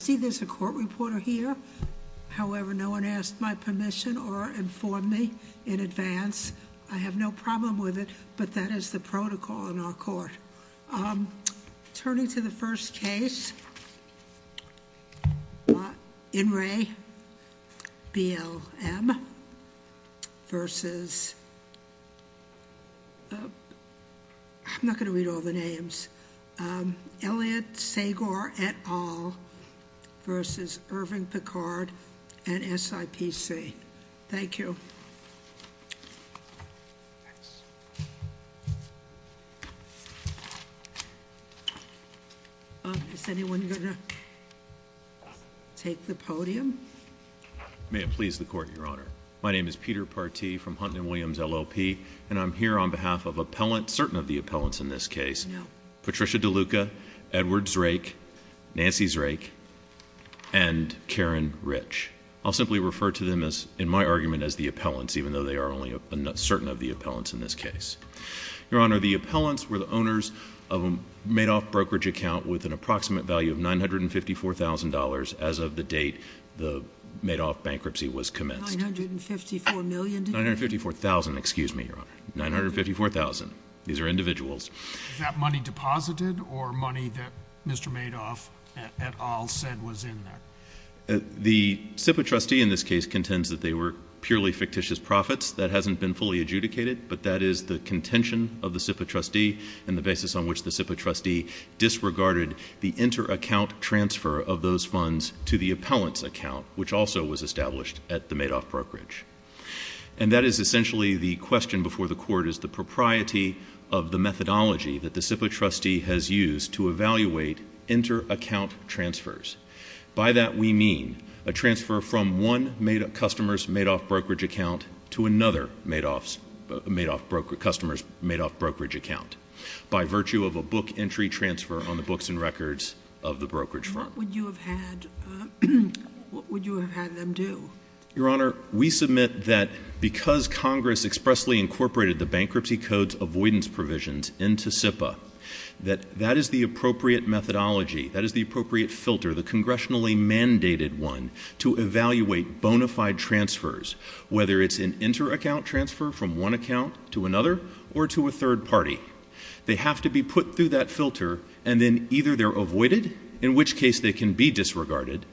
See, there's a court reporter here. However, no one asked my permission or informed me in advance. I have no problem with it, but that is the protocol in our court. Turning to the first case, In re, BLM versus, I'm not going to read all the names, Elliot Sagar et al versus Irving Picard and SIPC. Thank you. Is anyone going to take the podium? May it please the Court, Your Honor. My name is Peter Partee from Hunt and Williams LLP, and I'm here on behalf of appellants, certain of the appellants in this case, Patricia DeLuca, Edward Zrake, Nancy Zrake, and Karen Rich. I'll simply refer to them, in my argument, as the appellants, even though they are only certain of the appellants in this case. Your Honor, the appellants were the owners of a Madoff brokerage account with an approximate value of $954,000 as of the date the Madoff bankruptcy was commenced. $954 million? $954,000, excuse me, Your Honor. $954,000. These are individuals. Was that money deposited or money that Mr. Madoff et al said was in there? The SIPA trustee in this case contends that they were purely fictitious profits. That hasn't been fully adjudicated, but that is the contention of the SIPA trustee and the basis on which the SIPA trustee disregarded the inter-account transfer of those funds to the appellant's account, which also was established at the Madoff brokerage. And that is essentially the question before the Court, is the propriety of the methodology that the SIPA trustee has used to evaluate inter-account transfers. By that, we mean a transfer from one customer's Madoff brokerage account to another customer's Madoff brokerage account by virtue of a book entry transfer on the books and records of the brokerage firm. What would you have had them do? Your Honor, we submit that because Congress expressly incorporated the Bankruptcy Code's avoidance provisions into SIPA, that that is the appropriate methodology, that is the appropriate filter, the congressionally mandated one, to evaluate bona fide transfers, whether it's an inter-account transfer from one account to another or to a third party. They have to be put through that filter, and then either they're avoided, in which case they can be disregarded,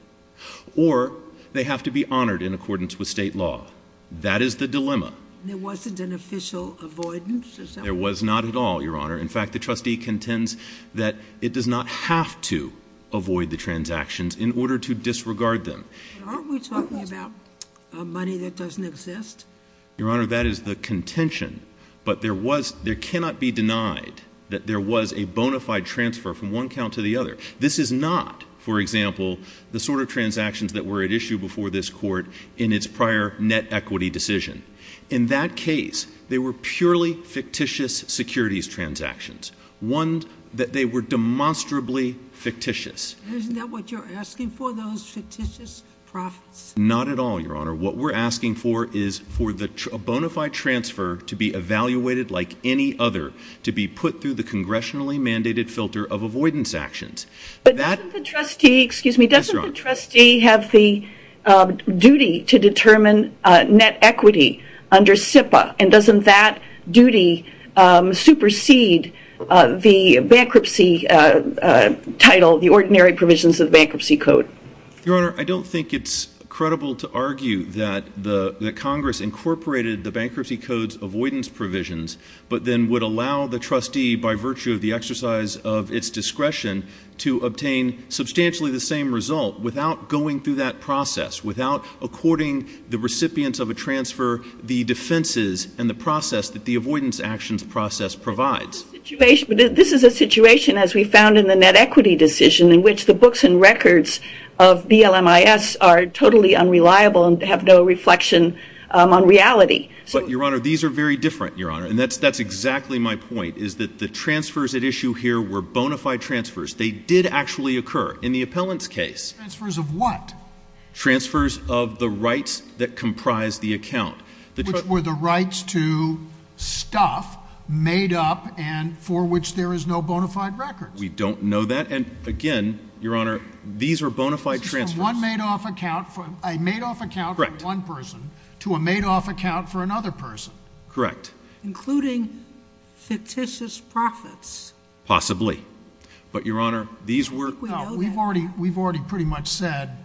or they have to be honored in accordance with state law. That is the dilemma. There wasn't an official avoidance? There was not at all, Your Honor. In fact, the trustee contends that it does not have to avoid the transactions in order to disregard them. Aren't we talking about money that doesn't exist? Your Honor, that is the contention, but there cannot be denied that there was a bona fide transfer from one account to the other. This is not, for example, the sort of transactions that were at issue before this Court in its prior net equity decision. In that case, they were purely fictitious securities transactions, one that they were demonstrably fictitious. Isn't that what you're asking for, those fictitious profits? Not at all, Your Honor. What we're asking for is for a bona fide transfer to be evaluated like any other, to be put through the congressionally mandated filter of avoidance actions. But doesn't the trustee have the duty to determine net equity under SIPA? And doesn't that duty supersede the bankruptcy title, the ordinary provisions of the bankruptcy code? Your Honor, I don't think it's credible to argue that Congress incorporated the bankruptcy code's avoidance provisions, but then would allow the trustee, by virtue of the exercise of its discretion, to obtain substantially the same result without going through that process, without according the recipients of a transfer the defenses and the process that the avoidance actions process provides. But this is a situation, as we found in the net equity decision, in which the books and records of BLMIS are totally unreliable and have no reflection on reality. But, Your Honor, these are very different, Your Honor. And that's exactly my point, is that the transfers at issue here were bona fide transfers. They did actually occur in the appellant's case. Transfers of what? Transfers of the rights that comprise the account. Which were the rights to stuff made up and for which there is no bona fide records. We don't know that. And, again, Your Honor, these are bona fide transfers. This is from a made-off account for one person to a made-off account for another person. Correct. Including fictitious profits. Possibly. But, Your Honor, these were— We've already pretty much said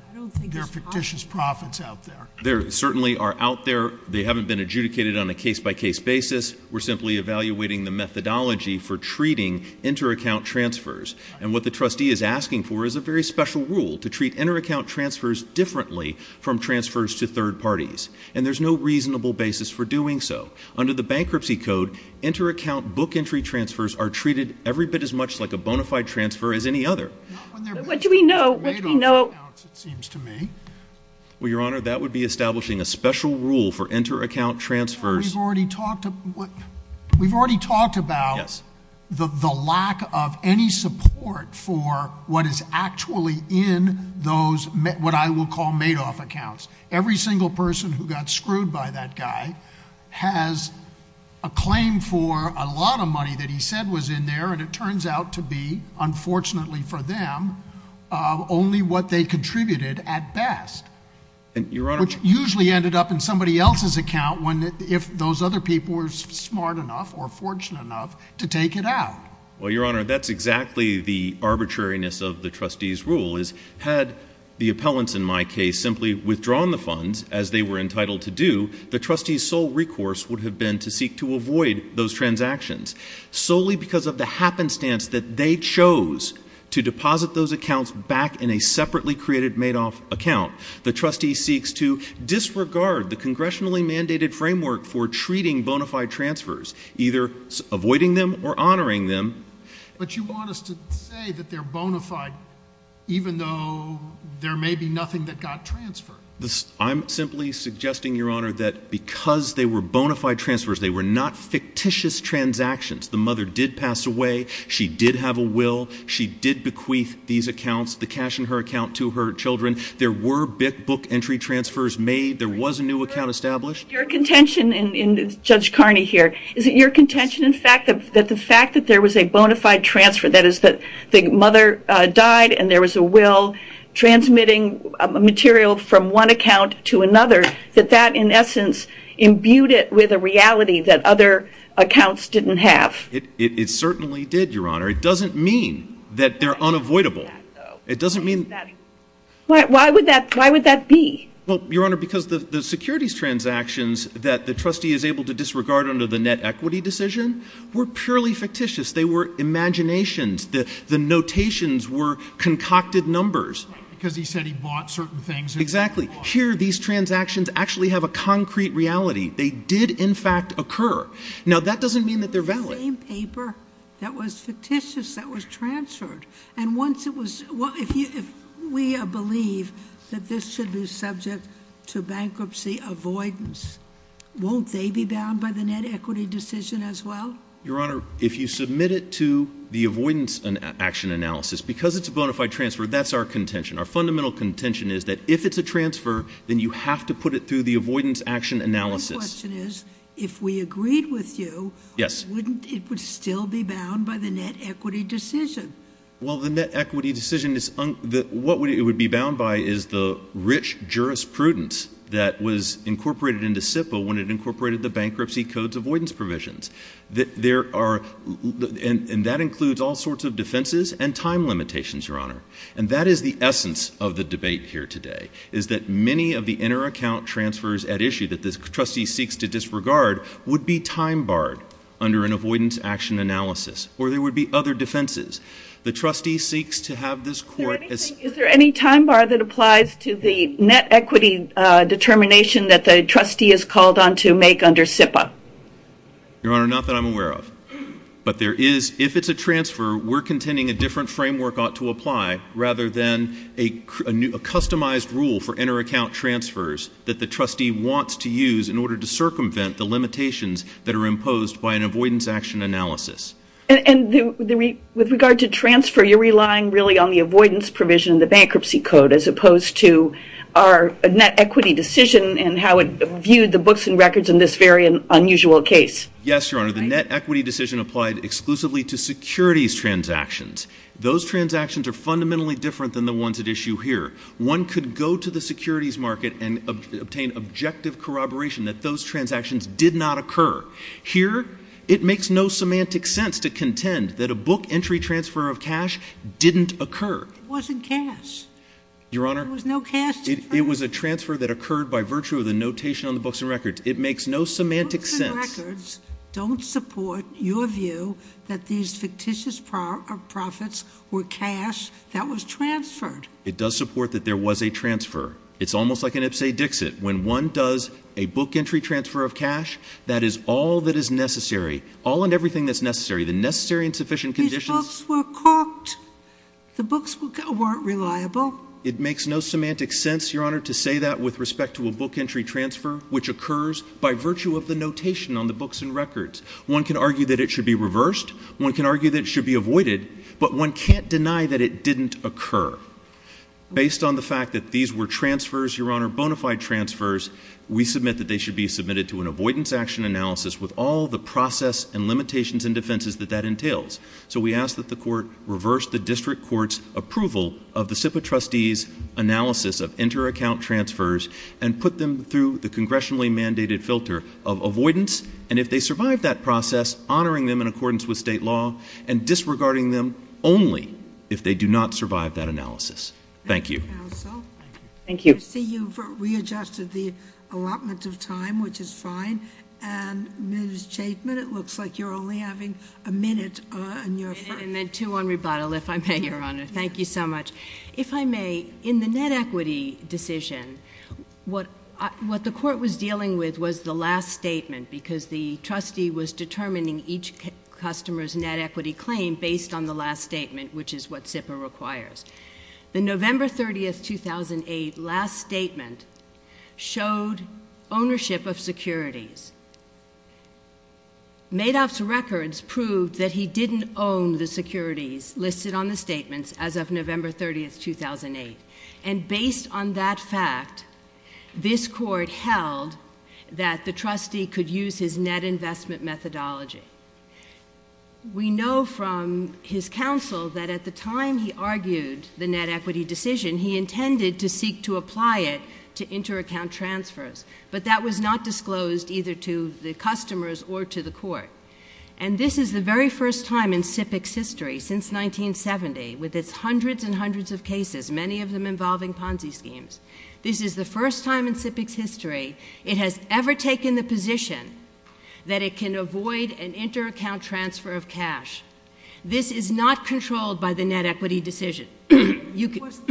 there are fictitious profits out there. They certainly are out there. They haven't been adjudicated on a case-by-case basis. We're simply evaluating the methodology for treating inter-account transfers. And what the trustee is asking for is a very special rule to treat inter-account transfers differently from transfers to third parties. And there's no reasonable basis for doing so. Under the bankruptcy code, inter-account book entry transfers are treated every bit as much like a bona fide transfer as any other. What do we know? Made-off accounts, it seems to me. Well, Your Honor, that would be establishing a special rule for inter-account transfers. We've already talked about the lack of any support for what is actually in those what I will call made-off accounts. Every single person who got screwed by that guy has a claim for a lot of money that he said was in there, and it turns out to be, unfortunately for them, only what they contributed at best, which usually ended up in somebody else's account if those other people were smart enough or fortunate enough to take it out. Well, Your Honor, that's exactly the arbitrariness of the trustee's rule, is had the appellants in my case simply withdrawn the funds as they were entitled to do, the trustee's sole recourse would have been to seek to avoid those transactions. Solely because of the happenstance that they chose to deposit those accounts back in a separately created made-off account, the trustee seeks to disregard the congressionally mandated framework for treating bona fide transfers, either avoiding them or honoring them. But you want us to say that they're bona fide even though there may be nothing that got transferred. I'm simply suggesting, Your Honor, that because they were bona fide transfers, they were not fictitious transactions. The mother did pass away. She did have a will. She did bequeath these accounts, the cash in her account, to her children. There were book entry transfers made. There was a new account established. Your contention, and Judge Carney here, is it your contention, in fact, that the fact that there was a bona fide transfer, that is that the mother died and there was a will transmitting material from one account to another, that that, in essence, imbued it with a reality that other accounts didn't have? It certainly did, Your Honor. It doesn't mean that they're unavoidable. It doesn't mean that. Why would that be? Well, Your Honor, because the securities transactions that the trustee is able to disregard under the net equity decision were purely fictitious. They were imaginations. The notations were concocted numbers. Because he said he bought certain things. Exactly. Here, these transactions actually have a concrete reality. They did, in fact, occur. Now, that doesn't mean that they're valid. The same paper that was fictitious that was transferred. And once it was – if we believe that this should be subject to bankruptcy avoidance, won't they be bound by the net equity decision as well? Your Honor, if you submit it to the avoidance action analysis, because it's a bona fide transfer, that's our contention. Our fundamental contention is that if it's a transfer, then you have to put it through the avoidance action analysis. My question is, if we agreed with you, wouldn't – it would still be bound by the net equity decision? Well, the net equity decision is – what it would be bound by is the rich jurisprudence that was incorporated into SIPA when it incorporated the bankruptcy codes avoidance provisions. There are – and that includes all sorts of defenses and time limitations, Your Honor. And that is the essence of the debate here today, is that many of the inter-account transfers at issue that this trustee seeks to disregard would be time barred under an avoidance action analysis, or there would be other defenses. The trustee seeks to have this court – Is there any time bar that applies to the net equity determination that the trustee is called on to make under SIPA? Your Honor, not that I'm aware of. But there is – if it's a transfer, we're contending a different framework ought to apply rather than a customized rule for inter-account transfers that the trustee wants to use in order to circumvent the limitations that are imposed by an avoidance action analysis. And with regard to transfer, you're relying really on the avoidance provision, the bankruptcy code, as opposed to our net equity decision and how it viewed the books and records in this very unusual case. Yes, Your Honor. The net equity decision applied exclusively to securities transactions. Those transactions are fundamentally different than the ones at issue here. One could go to the securities market and obtain objective corroboration that those transactions did not occur. Here, it makes no semantic sense to contend that a book entry transfer of cash didn't occur. It wasn't cash. Your Honor, it was a transfer that occurred by virtue of the notation on the books and records. It makes no semantic sense. Books and records don't support your view that these fictitious profits were cash that was transferred. It does support that there was a transfer. It's almost like an Ipse Dixit. When one does a book entry transfer of cash, that is all that is necessary. All and everything that's necessary. The necessary and sufficient conditions – These books were corked. The books weren't reliable. It makes no semantic sense, Your Honor, to say that with respect to a book entry transfer which occurs by virtue of the notation on the books and records. One can argue that it should be reversed. One can argue that it should be avoided. But one can't deny that it didn't occur. Based on the fact that these were transfers, Your Honor, bona fide transfers, we submit that they should be submitted to an avoidance action analysis with all the process and limitations and defenses that that entails. So we ask that the court reverse the district court's approval of the SIPA trustees' analysis of inter-account transfers and put them through the congressionally mandated filter of avoidance, and if they survive that process, honoring them in accordance with state law and disregarding them only if they do not survive that analysis. Thank you. Thank you, counsel. Thank you. I see you've readjusted the allotment of time, which is fine. And, Ms. Chapman, it looks like you're only having a minute on your first— And then two on rebuttal, if I may, Your Honor. Thank you so much. If I may, in the net equity decision, what the court was dealing with was the last statement because the trustee was determining each customer's net equity claim based on the last statement, which is what SIPA requires. The November 30, 2008, last statement showed ownership of securities. Madoff's records proved that he didn't own the securities listed on the statements as of November 30, 2008. And based on that fact, this court held that the trustee could use his net investment methodology. We know from his counsel that at the time he argued the net equity decision, he intended to seek to apply it to inter-account transfers, but that was not disclosed either to the customers or to the court. And this is the very first time in SIPA's history, since 1970, with its hundreds and hundreds of cases, many of them involving Ponzi schemes, this is the first time in SIPA's history it has ever taken the position that it can avoid an inter-account transfer of cash. This is not controlled by the net equity decision. It wasn't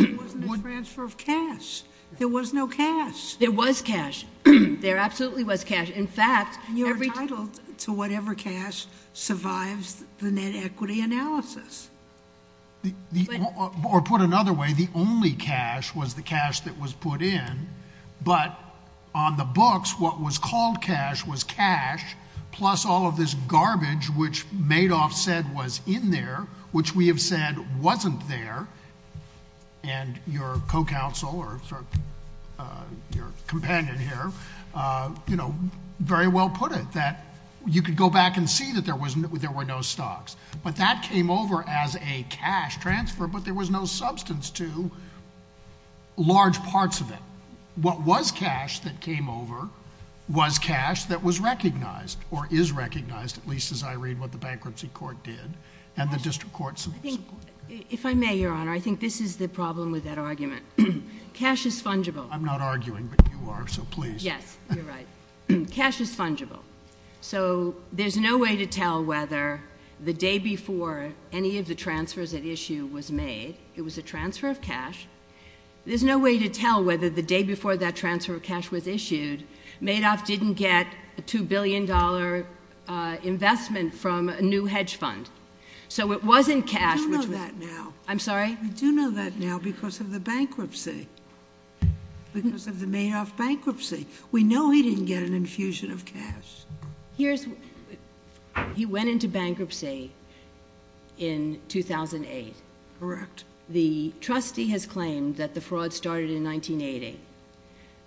a transfer of cash. There was no cash. There was cash. There absolutely was cash. In fact... And you're entitled to whatever cash survives the net equity analysis. Or put another way, the only cash was the cash that was put in, but on the books, what was called cash was cash, plus all of this garbage which Madoff said was in there, which we have said wasn't there, and your co-counsel or your companion here, you know, very well put it, that you could go back and see that there were no stocks. But that came over as a cash transfer, but there was no substance to large parts of it. What was cash that came over was cash that was recognized, or is recognized, at least as I read what the bankruptcy court did and the district court. If I may, Your Honor, I think this is the problem with that argument. Cash is fungible. I'm not arguing, but you are, so please. Yes, you're right. Cash is fungible. So there's no way to tell whether the day before any of the transfers at issue was made, it was a transfer of cash. There's no way to tell whether the day before that transfer of cash was issued, Madoff didn't get a $2 billion investment from a new hedge fund. So it wasn't cash. I do know that now. I'm sorry? I do know that now because of the bankruptcy, because of the Madoff bankruptcy. We know he didn't get an infusion of cash. He went into bankruptcy in 2008. Correct. The trustee has claimed that the fraud started in 1980.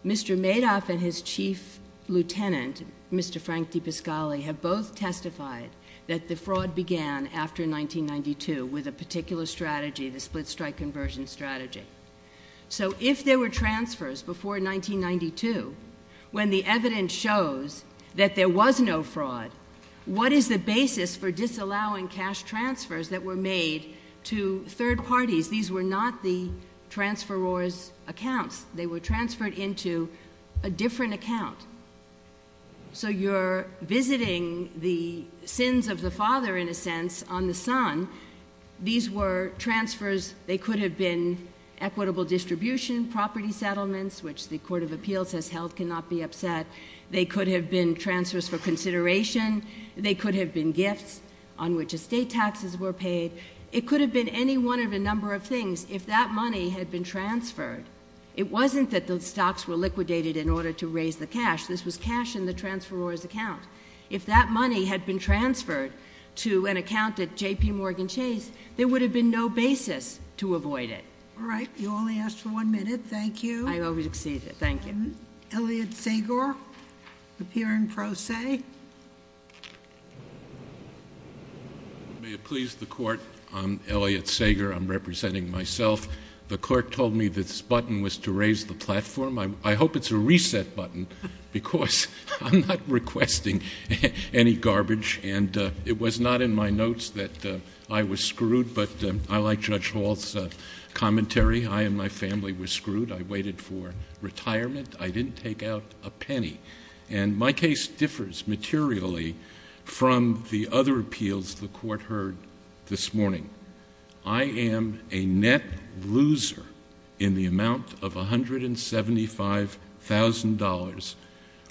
Mr. Madoff and his chief lieutenant, Mr. Frank DePiscali, have both testified that the fraud began after 1992 with a particular strategy, the split-strike conversion strategy. So if there were transfers before 1992, when the evidence shows that there was no fraud, what is the basis for disallowing cash transfers that were made to third parties? These were not the transferor's accounts. They were transferred into a different account. So you're visiting the sins of the father, in a sense, on the son. These were transfers. They could have been equitable distribution, property settlements, which the Court of Appeals has held cannot be upset. They could have been transfers for consideration. They could have been gifts on which estate taxes were paid. It could have been any one of a number of things if that money had been transferred. It wasn't that the stocks were liquidated in order to raise the cash. This was cash in the transferor's account. If that money had been transferred to an account at J.P. Morgan Chase, there would have been no basis to avoid it. All right. You only asked for one minute. Thank you. I over-exceeded. Thank you. Elliot Sager, appearing pro se. May it please the Court, I'm Elliot Sager. I'm representing myself. The Court told me this button was to raise the platform. I hope it's a reset button because I'm not requesting any garbage. And it was not in my notes that I was screwed, but I like Judge Hall's commentary. I and my family were screwed. I waited for retirement. I didn't take out a penny. And my case differs materially from the other appeals the Court heard this morning. I am a net loser in the amount of $175,000,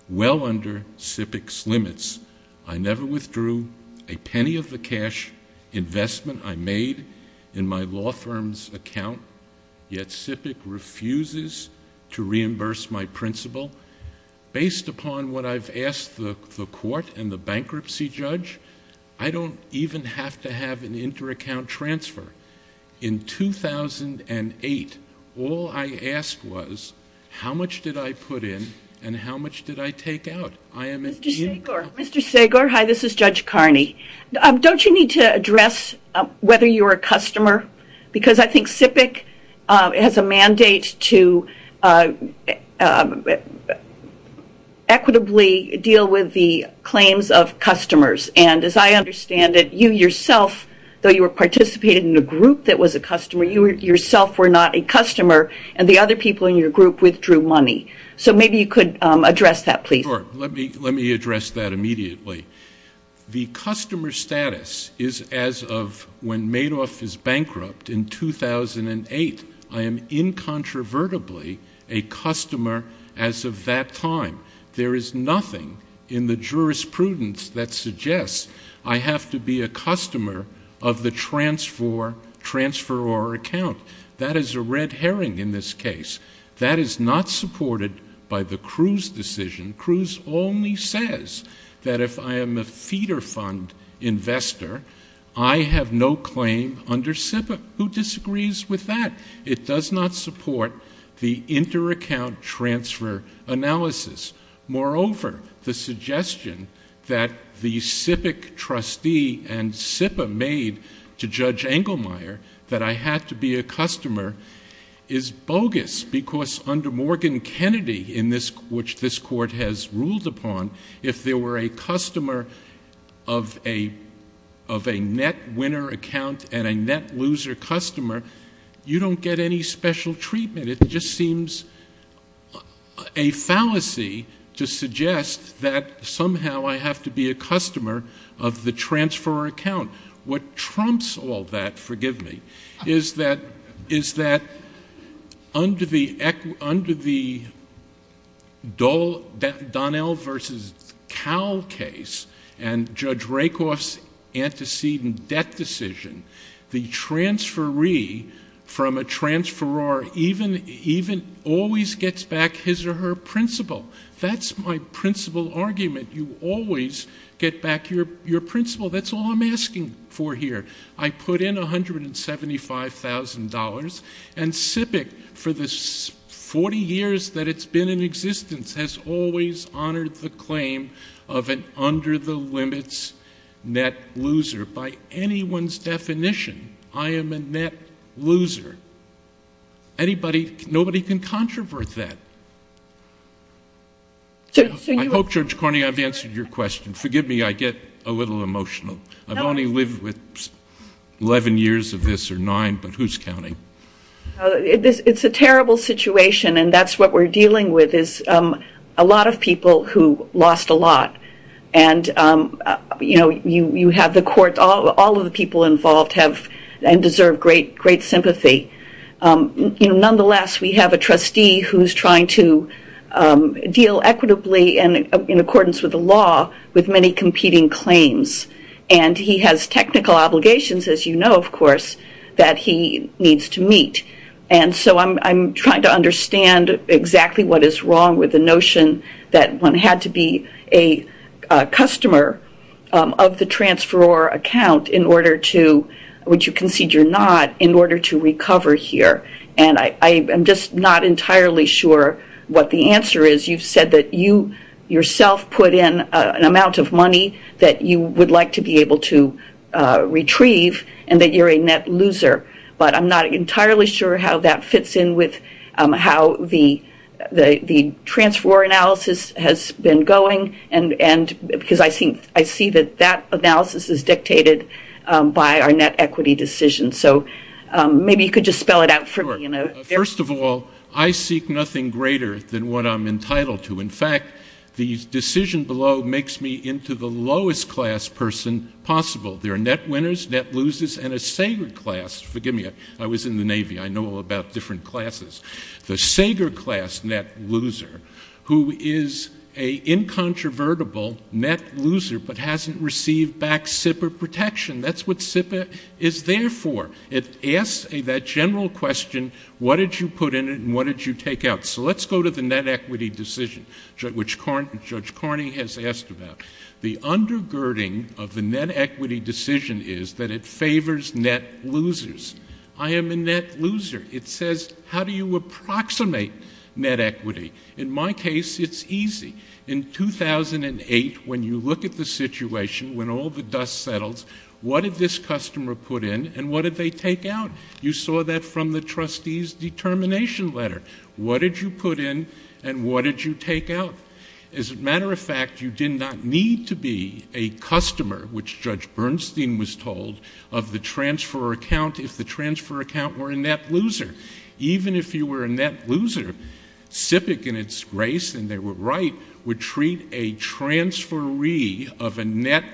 well under SIPC's limits. I never withdrew a penny of the cash investment I made in my law firm's account, yet SIPC refuses to reimburse my principal. Based upon what I've asked the Court and the bankruptcy judge, I don't even have to have an inter-account transfer. In 2008, all I asked was how much did I put in and how much did I take out. Mr. Sager, hi, this is Judge Carney. Don't you need to address whether you're a customer? Because I think SIPC has a mandate to equitably deal with the claims of customers. And as I understand it, you yourself, though you participated in a group that was a customer, you yourself were not a customer, and the other people in your group withdrew money. So maybe you could address that, please. Sure. Let me address that immediately. The customer status is as of when Madoff is bankrupt in 2008. I am incontrovertibly a customer as of that time. There is nothing in the jurisprudence that suggests I have to be a customer of the transferor account. That is a red herring in this case. That is not supported by the Cruz decision. Cruz only says that if I am a feeder fund investor, I have no claim under SIPA. Who disagrees with that? It does not support the inter-account transfer analysis. Moreover, the suggestion that the SIPIC trustee and SIPA made to Judge Engelmeyer that I had to be a customer is bogus because under Morgan Kennedy, which this Court has ruled upon, if there were a customer of a net winner account and a net loser customer, you do not get any special treatment. It just seems a fallacy to suggest that somehow I have to be a customer of the transferor account. What trumps all that, forgive me, is that under the Donnell v. Cowell case and Judge Rakoff's antecedent debt decision, the transferee from a transferor even always gets back his or her principal. That is my principal argument. You always get back your principal. That is all I am asking for here. I put in $175,000, and SIPIC, for the 40 years that it has been in existence, has always honored the claim of an under-the-limits net loser. By anyone's definition, I am a net loser. Nobody can controvert that. I hope, Judge Carney, I have answered your question. Forgive me, I get a little emotional. I have only lived with 11 years of this or nine, but who is counting? It is a terrible situation, and that is what we are dealing with, is a lot of people who lost a lot. All of the people involved have and deserve great sympathy. Nonetheless, we have a trustee who is trying to deal equitably and in accordance with the law with many competing claims. He has technical obligations, as you know, of course, that he needs to meet. I am trying to understand exactly what is wrong with the notion that one had to be a customer of the transferor account, which you concede you are not, in order to recover here. I am just not entirely sure what the answer is. You have said that you yourself put in an amount of money that you would like to be able to retrieve and that you are a net loser, but I am not entirely sure how that fits in with how the transferor analysis has been going, because I see that that analysis is dictated by our net equity decision. Maybe you could just spell it out for me. First of all, I seek nothing greater than what I am entitled to. In fact, the decision below makes me into the lowest class person possible. There are net winners, net losers, and a Sager class. Forgive me, I was in the Navy. I know all about different classes. The Sager class net loser, who is a incontrovertible net loser but hasn't received back SIPA protection, that's what SIPA is there for. It asks that general question, what did you put in it and what did you take out? So let's go to the net equity decision, which Judge Carney has asked about. The undergirding of the net equity decision is that it favors net losers. I am a net loser. It says, how do you approximate net equity? In my case, it's easy. In 2008, when you look at the situation, when all the dust settles, what did this customer put in and what did they take out? You saw that from the trustee's determination letter. What did you put in and what did you take out? As a matter of fact, you did not need to be a customer, which Judge Bernstein was told, of the transfer account if the transfer account were a net loser. Even if you were a net loser, SIPA, in its grace, and they were right, would treat a transferee of a net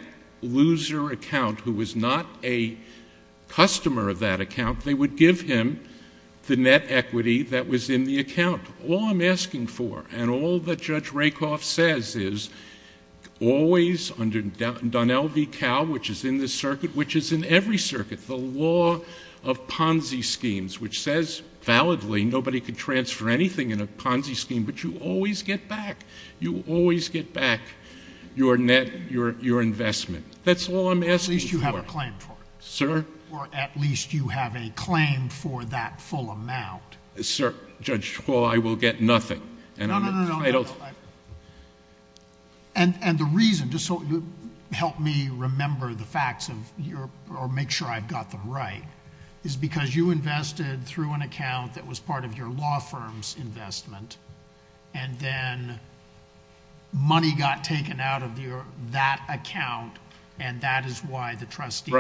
loser account who was not a customer of that account, they would give him the net equity that was in the account. All I'm asking for and all that Judge Rakoff says is always, under Donnell v. Cow, which is in this circuit, which is in every circuit, the law of Ponzi schemes, which says validly nobody can transfer anything in a Ponzi scheme, but you always get back. You always get back your net, your investment. That's all I'm asking for. At least you have a claim for it. Sir? Or at least you have a claim for that full amount. Sir, Judge Hall, I will get nothing. No, no, no. I don't... The reason, just so you help me remember the facts or make sure I've got them right, is because you invested through an account that was part of your law firm's investment, and then money got taken out of that account, and that is why the trustee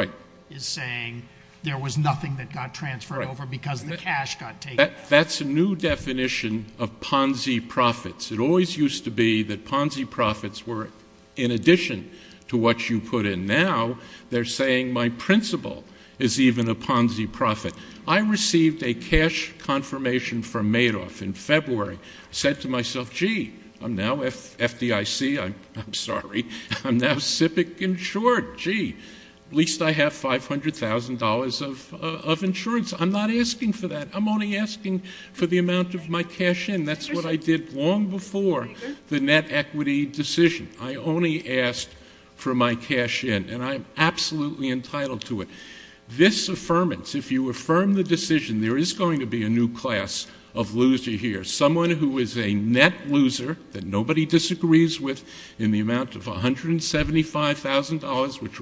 is saying there was nothing that got transferred over because the cash got taken out. That's a new definition of Ponzi profits. It always used to be that Ponzi profits were in addition to what you put in. Now they're saying my principal is even a Ponzi profit. I received a cash confirmation from Madoff in February. I said to myself, gee, I'm now FDIC. I'm sorry. I'm now SIPC insured. Gee, at least I have $500,000 of insurance. I'm not asking for that. I'm only asking for the amount of my cash in. That's what I did long before the net equity decision. I only asked for my cash in, and I'm absolutely entitled to it. This affirmance, if you affirm the decision, there is going to be a new class of loser here, someone who is a net loser that nobody disagrees with in the amount of $175,000, which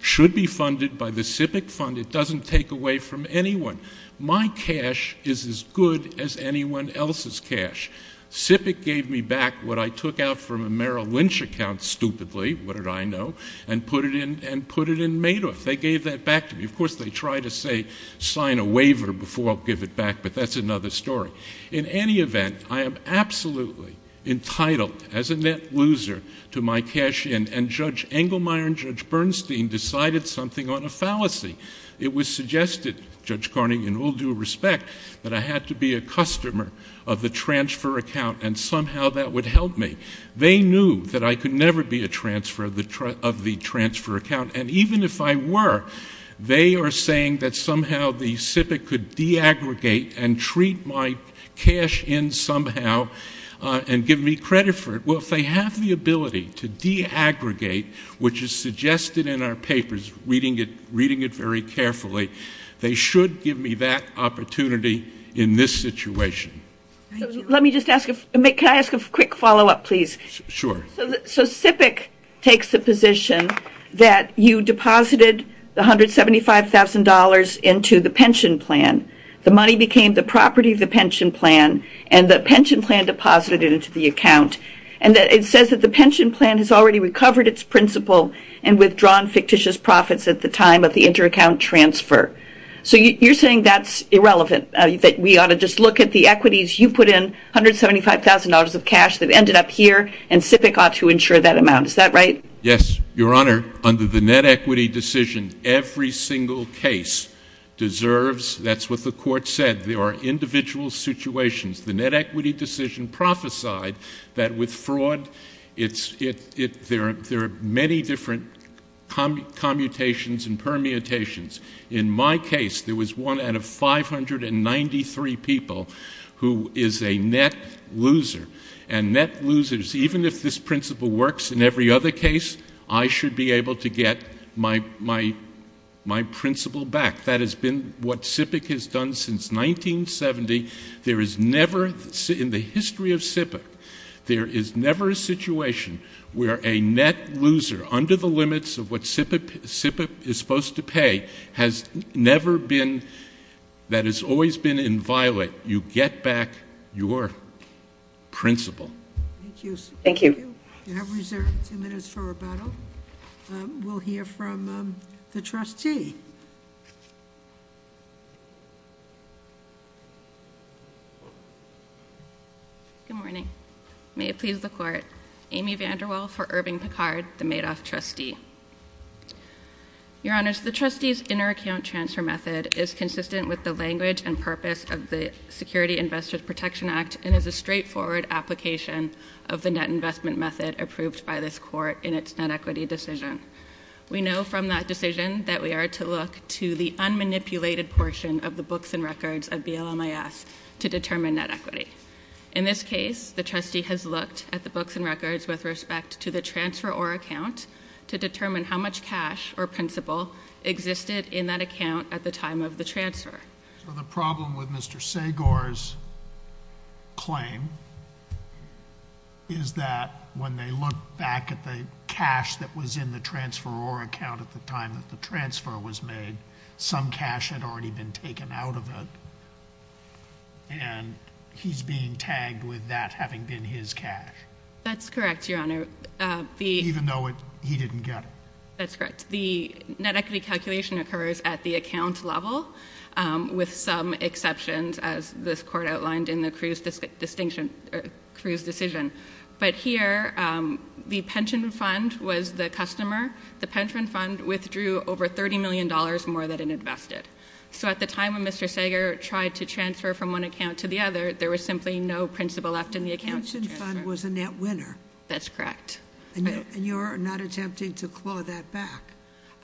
should be funded by the SIPC fund. It doesn't take away from anyone. My cash is as good as anyone else's cash. SIPC gave me back what I took out from a Merrill Lynch account stupidly, what did I know, and put it in Madoff. They gave that back to me. Of course, they try to say sign a waiver before I'll give it back, but that's another story. In any event, I am absolutely entitled as a net loser to my cash in, and Judge Engelmeyer and Judge Bernstein decided something on a fallacy. It was suggested, Judge Carney, in all due respect, that I had to be a customer of the transfer account, and somehow that would help me. They knew that I could never be a transfer of the transfer account, and even if I were, they are saying that somehow the SIPC could de-aggregate and treat my cash in somehow and give me credit for it. Well, if they have the ability to de-aggregate, which is suggested in our papers, reading it very carefully, they should give me that opportunity in this situation. Let me just ask a quick follow-up, please. Sure. So SIPC takes the position that you deposited the $175,000 into the pension plan. The money became the property of the pension plan, and the pension plan deposited it into the account, and it says that the pension plan has already recovered its principal and withdrawn fictitious profits at the time of the inter-account transfer. So you're saying that's irrelevant, that we ought to just look at the equities. You put in $175,000 of cash that ended up here, and SIPC ought to insure that amount. Is that right? Yes, Your Honor. Under the net equity decision, every single case deserves, that's what the court said, there are individual situations. The net equity decision prophesied that with fraud, there are many different commutations and permutations. In my case, there was one out of 593 people who is a net loser. And net losers, even if this principle works in every other case, I should be able to get my principal back. That has been what SIPC has done since 1970. There is never, in the history of SIPC, There is never a situation where a net loser under the limits of what SIPC is supposed to pay has never been, that has always been inviolate. You get back your principal. Thank you. You have reserved two minutes for rebuttal. We'll hear from the trustee. Good morning. May it please the court. Amy VanderWaal for Irving Picard, the Madoff trustee. Your Honors, the trustee's inter-account transfer method is consistent with the language and purpose of the Security Investor Protection Act and is a straightforward application of the net investment method approved by this court in its net equity decision. We know from that decision that we are to look to the unmanipulated portion of the books and records of BLMIS to determine net equity. In this case, the trustee has looked at the books and records with respect to the transfer or account to determine how much cash or principal existed in that account at the time of the transfer. So the problem with Mr. Seigor's claim is that when they look back at the cash that was in the transfer or account at the time that the transfer was made, some cash had already been taken out of it, and he's being tagged with that having been his cash. That's correct, Your Honor. Even though he didn't get it. That's correct. The net equity calculation occurs at the account level, with some exceptions, as this court outlined in the Cruz decision. But here, the pension fund was the customer. The pension fund withdrew over $30 million more than it invested. So at the time when Mr. Seigor tried to transfer from one account to the other, there was simply no principal left in the account transfer. The pension fund was a net winner. That's correct. And you're not attempting to claw that back?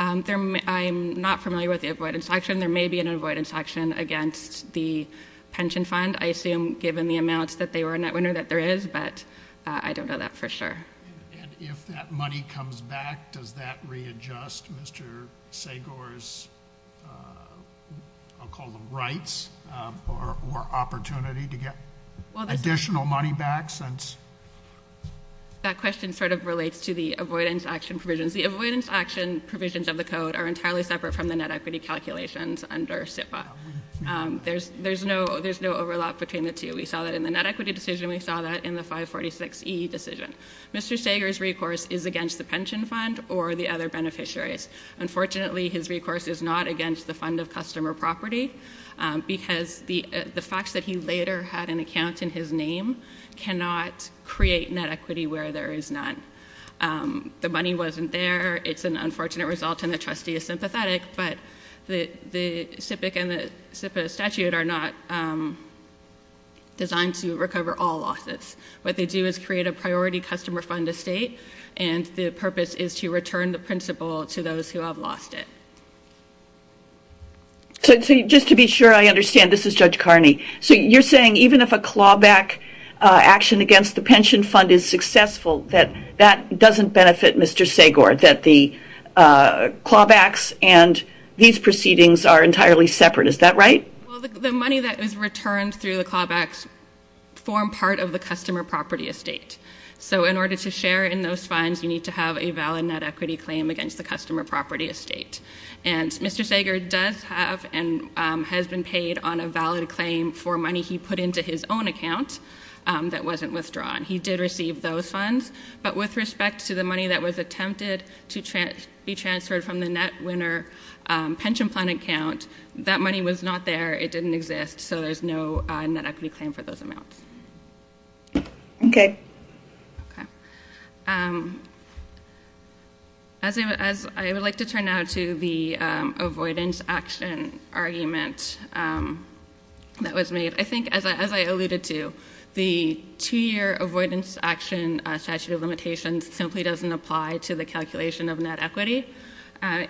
I'm not familiar with the avoidance action. There may be an avoidance action against the pension fund. I assume given the amount that they were a net winner that there is, but I don't know that for sure. And if that money comes back, does that readjust Mr. Seigor's, I'll call them rights or opportunity to get additional money back? That question sort of relates to the avoidance action provisions. The avoidance action provisions of the code are entirely separate from the net equity calculations under SIPA. There's no overlap between the two. We saw that in the net equity decision. We saw that in the 546E decision. Mr. Seigor's recourse is against the pension fund or the other beneficiaries. Unfortunately, his recourse is not against the fund of customer property because the fact that he later had an account in his name cannot create net equity where there is none. The money wasn't there. It's an unfortunate result, and the trustee is sympathetic, but the SIPA statute are not designed to recover all losses. What they do is create a priority customer fund estate, and the purpose is to return the principal to those who have lost it. So just to be sure I understand, this is Judge Carney. So you're saying even if a clawback action against the pension fund is successful, that that doesn't benefit Mr. Seigor, that the clawbacks and these proceedings are entirely separate. Is that right? Well, the money that is returned through the clawbacks form part of the customer property estate. So in order to share in those funds, you need to have a valid net equity claim against the customer property estate. And Mr. Seigor does have and has been paid on a valid claim for money he put into his own account that wasn't withdrawn. He did receive those funds, but with respect to the money that was attempted to be transferred from the net winner pension plan account, that money was not there. It didn't exist. So there's no net equity claim for those amounts. Okay. As I would like to turn now to the avoidance action argument that was made, I think as I alluded to, the two-year avoidance action statute of limitations simply doesn't apply to the calculation of net equity.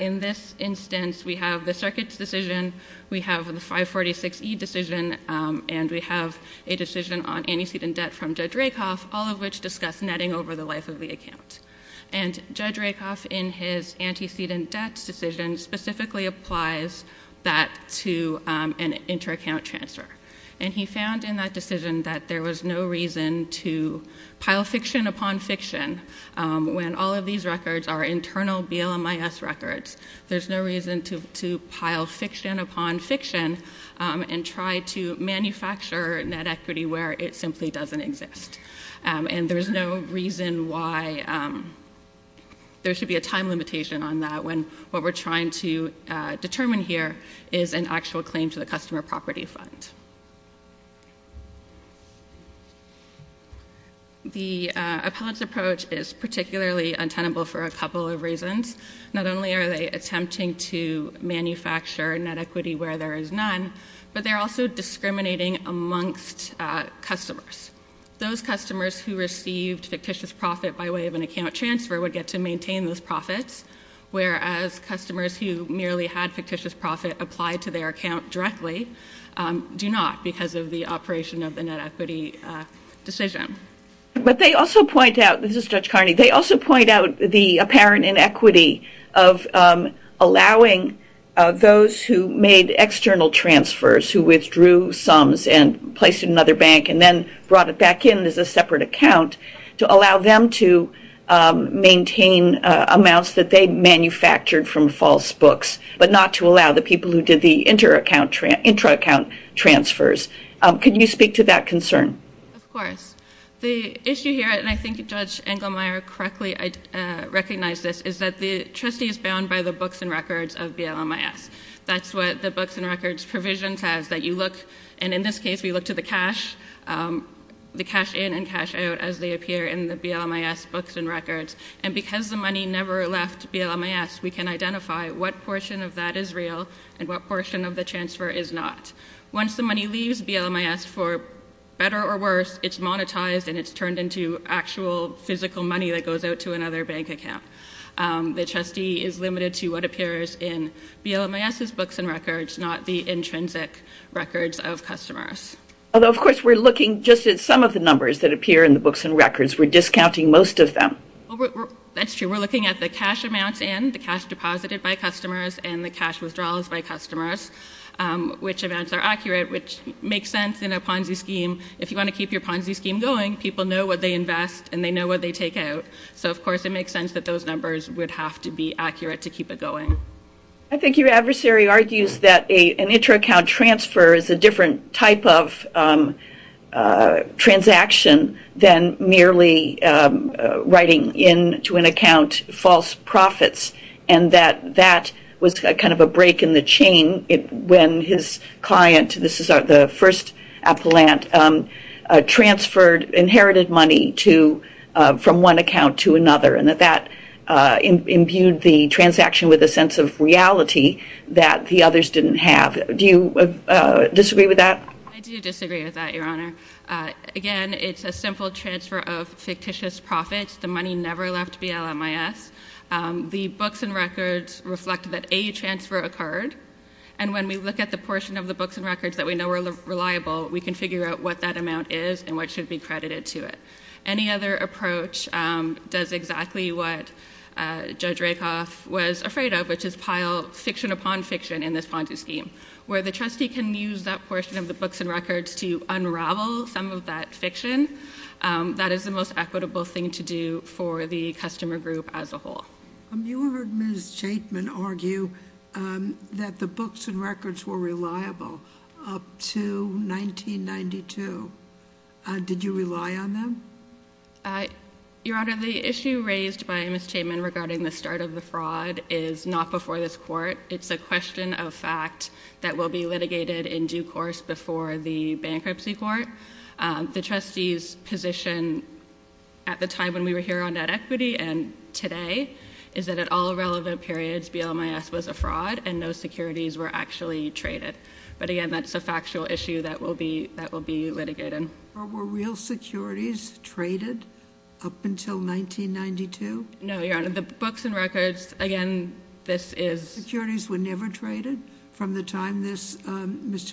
In this instance, we have the circuits decision, we have the 546E decision, and we have a decision on antecedent debt from Judge Rakoff, all of which discuss netting over the life of the account. And Judge Rakoff, in his antecedent debt decision, specifically applies that to an inter-account transfer. And he found in that decision that there was no reason to pile fiction upon fiction when all of these records are internal BLMIS records. There's no reason to pile fiction upon fiction and try to manufacture net equity where it simply doesn't exist. And there's no reason why there should be a time limitation on that when what we're trying to determine here is an actual claim to the customer property fund. The appellate's approach is particularly untenable for a couple of reasons. Not only are they attempting to manufacture net equity where there is none, but they're also discriminating amongst customers. Those customers who received fictitious profit by way of an account transfer would get to maintain those profits, whereas customers who merely had fictitious profit applied to their account directly do not because of the operation of the net equity decision. But they also point out, this is Judge Carney, they also point out the apparent inequity of allowing those who made external transfers, who withdrew sums and placed it in another bank and then brought it back in as a separate account, to allow them to maintain amounts that they manufactured from false books, but not to allow the people who did the intra-account transfers. Can you speak to that concern? Of course. The issue here, and I think Judge Engelmeyer correctly recognized this, is that the trustee is bound by the books and records of BLMIS. That's what the books and records provision says, that you look, and in this case we look to the cash, the cash in and cash out as they appear in the BLMIS books and records. And because the money never left BLMIS, we can identify what portion of that is real and what portion of the transfer is not. Once the money leaves BLMIS, for better or worse, it's monetized and it's turned into actual physical money that goes out to another bank account. The trustee is limited to what appears in BLMIS's books and records, not the intrinsic records of customers. Although, of course, we're looking just at some of the numbers that appear in the books and records. We're discounting most of them. That's true. We're looking at the cash amounts in, the cash deposited by customers, and the cash withdrawals by customers, which amounts are accurate, which makes sense in a Ponzi scheme. If you want to keep your Ponzi scheme going, people know what they invest and they know what they take out. So, of course, it makes sense that those numbers would have to be accurate to keep it going. I think your adversary argues that an intra-account transfer is a different type of transaction than merely writing into an account false profits, and that that was kind of a break in the chain when his client, this is the first appellant, transferred inherited money from one account to another, and that that imbued the transaction with a sense of reality that the others didn't have. Do you disagree with that? I do disagree with that, Your Honor. Again, it's a simple transfer of fictitious profits. The money never left BLMIS. The books and records reflect that a transfer occurred, and when we look at the portion of the books and records that we know are reliable, we can figure out what that amount is and what should be credited to it. Any other approach does exactly what Judge Rakoff was afraid of, which is pile fiction upon fiction in this Ponzi scheme, where the trustee can use that portion of the books and records to unravel some of that fiction. That is the most equitable thing to do for the customer group as a whole. You heard Ms. Chapman argue that the books and records were reliable up to 1992. Did you rely on them? Your Honor, the issue raised by Ms. Chapman regarding the start of the fraud is not before this court. It's a question of fact that will be litigated in due course before the bankruptcy court. The trustee's position at the time when we were here on net equity and today is that at all relevant periods BLMIS was a fraud and no securities were actually traded. But again, that's a factual issue that will be litigated. Were real securities traded up until 1992? No, Your Honor. The books and records, again, this is— Mr.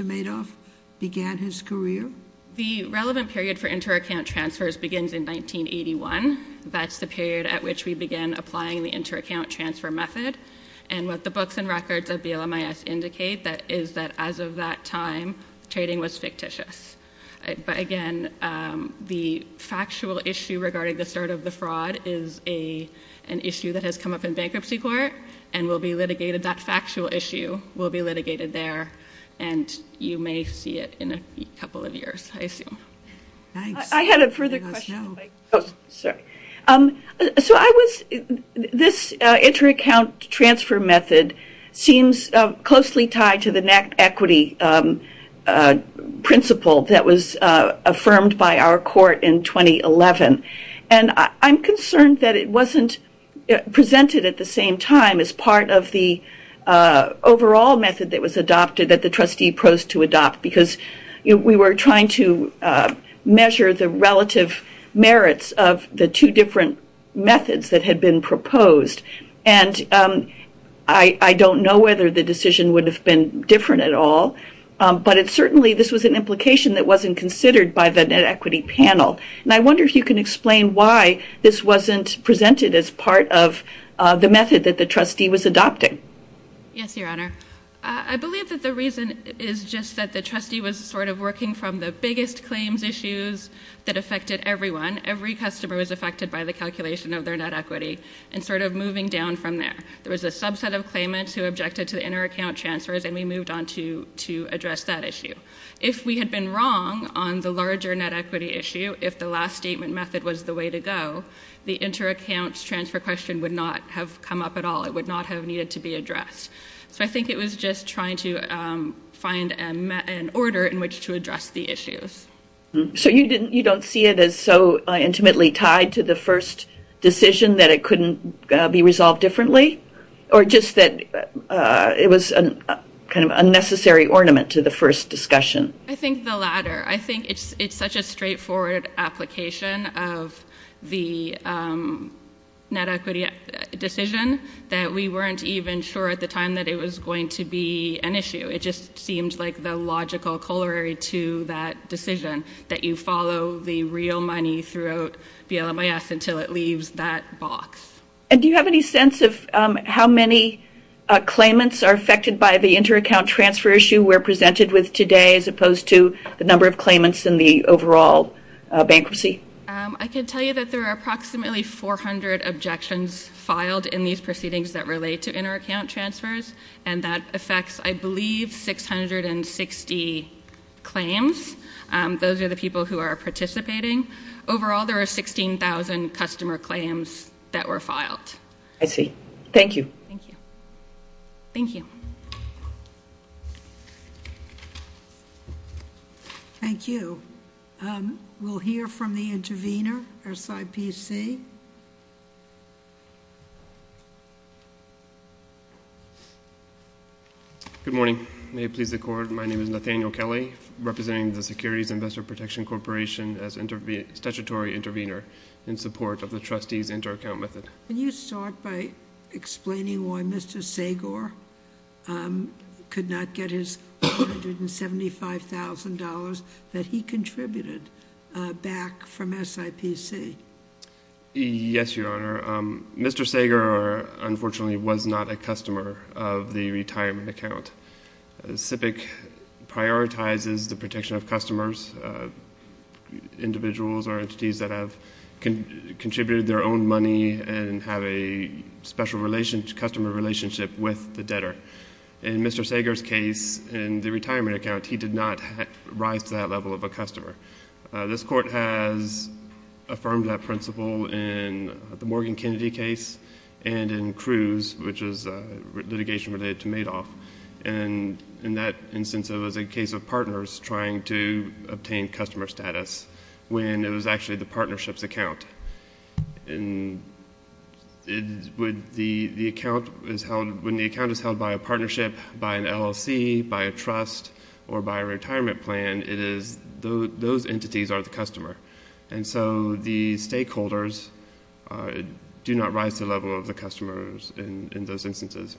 Madoff began his career? The relevant period for inter-account transfers begins in 1981. That's the period at which we begin applying the inter-account transfer method. And what the books and records of BLMIS indicate is that as of that time, trading was fictitious. But again, the factual issue regarding the start of the fraud is an issue that has come up in bankruptcy court and will be litigated—that factual issue will be litigated there. And you may see it in a couple of years, I assume. I had a further question. Oh, sorry. So I was—this inter-account transfer method seems closely tied to the net equity principle that was affirmed by our court in 2011. And I'm concerned that it wasn't presented at the same time as part of the overall method that was adopted that the trustee posed to adopt because we were trying to measure the relative merits of the two different methods that had been proposed. And I don't know whether the decision would have been different at all, but it certainly—this was an implication that wasn't considered by the net equity panel. And I wonder if you can explain why this wasn't presented as part of the method that the trustee was adopting. Yes, Your Honor. I believe that the reason is just that the trustee was sort of working from the biggest claims issues that affected everyone. Every customer was affected by the calculation of their net equity and sort of moving down from there. There was a subset of claimants who objected to the inter-account transfers, and we moved on to address that issue. If we had been wrong on the larger net equity issue, if the last statement method was the way to go, the inter-accounts transfer question would not have come up at all. It would not have needed to be addressed. So I think it was just trying to find an order in which to address the issues. So you don't see it as so intimately tied to the first decision that it couldn't be resolved differently? Or just that it was kind of a necessary ornament to the first discussion? I think the latter. I think it's such a straightforward application of the net equity decision that we weren't even sure at the time that it was going to be an issue. It just seemed like the logical corollary to that decision, that you follow the real money throughout BLMIS until it leaves that box. Do you have any sense of how many claimants are affected by the inter-account transfer issue we're presented with today as opposed to the number of claimants in the overall bankruptcy? I can tell you that there are approximately 400 objections filed in these proceedings that relate to inter-account transfers, and that affects, I believe, 660 claims. Those are the people who are participating. Overall, there are 16,000 customer claims that were filed. I see. Thank you. Thank you. Thank you. We'll hear from the intervener, SIPC. Good morning. May it please the Court, my name is Nathaniel Kelly, representing the Securities Investor Protection Corporation as statutory intervener in support of the trustees' inter-account method. Can you start by explaining why Mr. Sager could not get his $175,000 that he contributed back from SIPC? Yes, Your Honor. Mr. Sager, unfortunately, was not a customer of the retirement account. SIPC prioritizes the protection of customers, individuals or entities that have contributed their own money and have a special customer relationship with the debtor. In Mr. Sager's case, in the retirement account, he did not rise to that level of a customer. This Court has affirmed that principle in the Morgan Kennedy case and in Cruz, which is litigation related to Madoff. In that instance, it was a case of partners trying to obtain customer status when it was actually the partnership's account. When the account is held by a partnership, by an LLC, by a trust or by a retirement plan, those entities are the customer. And so the stakeholders do not rise to the level of the customers in those instances.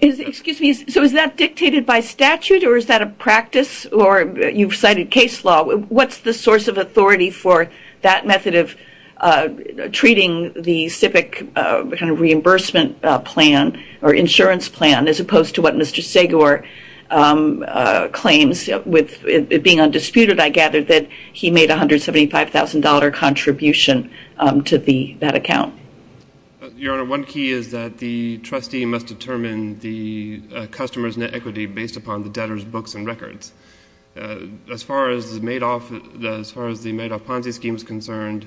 Excuse me. So is that dictated by statute or is that a practice or you've cited case law? What's the source of authority for that method of treating the SIPC reimbursement plan or insurance plan as opposed to what Mr. Sager claims with it being undisputed, I gather, that he made a $175,000 contribution to that account? Your Honor, one key is that the trustee must determine the customer's net equity based upon the debtor's books and records. As far as the Madoff Ponzi scheme is concerned,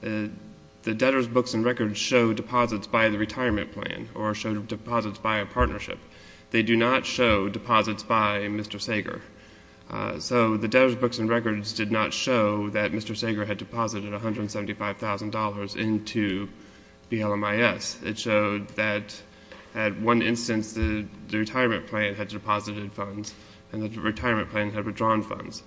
the debtor's books and records show deposits by the retirement plan or show deposits by a partnership. They do not show deposits by Mr. Sager. So the debtor's books and records did not show that Mr. Sager had deposited $175,000 into BLMIS. It showed that at one instance the retirement plan had deposited funds and the retirement plan had withdrawn funds.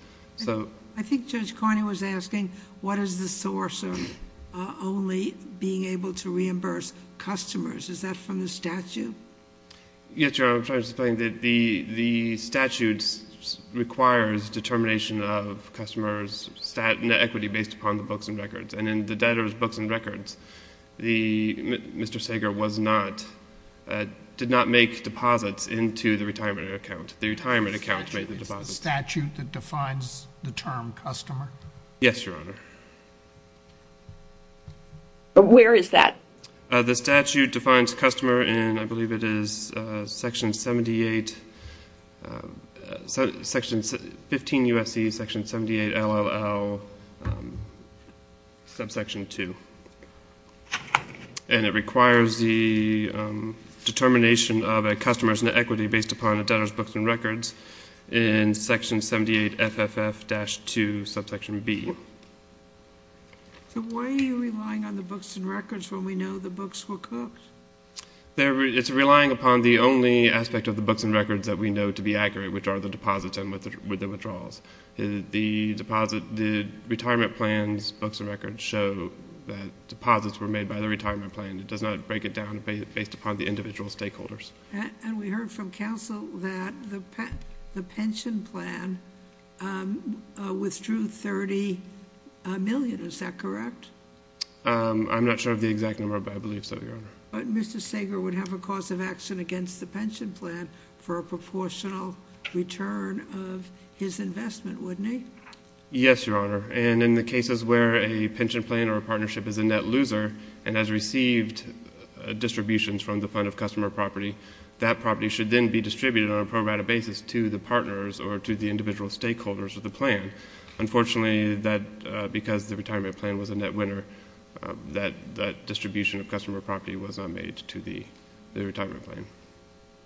I think Judge Carney was asking what is the source of only being able to reimburse customers. Is that from the statute? Yes, Your Honor. I'm trying to explain that the statute requires determination of customers' net equity based upon the books and records. And in the debtor's books and records, Mr. Sager did not make deposits into the retirement account. The retirement account made the deposits. Is the statute that defines the term customer? Yes, Your Honor. But where is that? The statute defines customer in, I believe it is Section 78, Section 15 U.S.C., Section 78 LLL, Subsection 2. And it requires the determination of a customer's net equity based upon a debtor's books and records in Section 78 FFF-2, Subsection B. So why are you relying on the books and records when we know the books were cooked? It's relying upon the only aspect of the books and records that we know to be accurate, which are the deposits and withdrawals. The retirement plan's books and records show that deposits were made by the retirement plan. It does not break it down based upon the individual stakeholders. And we heard from counsel that the pension plan withdrew $30 million, is that correct? I'm not sure of the exact number, but I believe so, Your Honor. But Mr. Sager would have a cause of action against the pension plan for a proportional return of his investment, wouldn't he? Yes, Your Honor. And in the cases where a pension plan or a partnership is a net loser and has received distributions from the fund of customer property, that property should then be distributed on a pro rata basis to the partners or to the individual stakeholders of the plan. Unfortunately, because the retirement plan was a net winner, that distribution of customer property was not made to the retirement plan.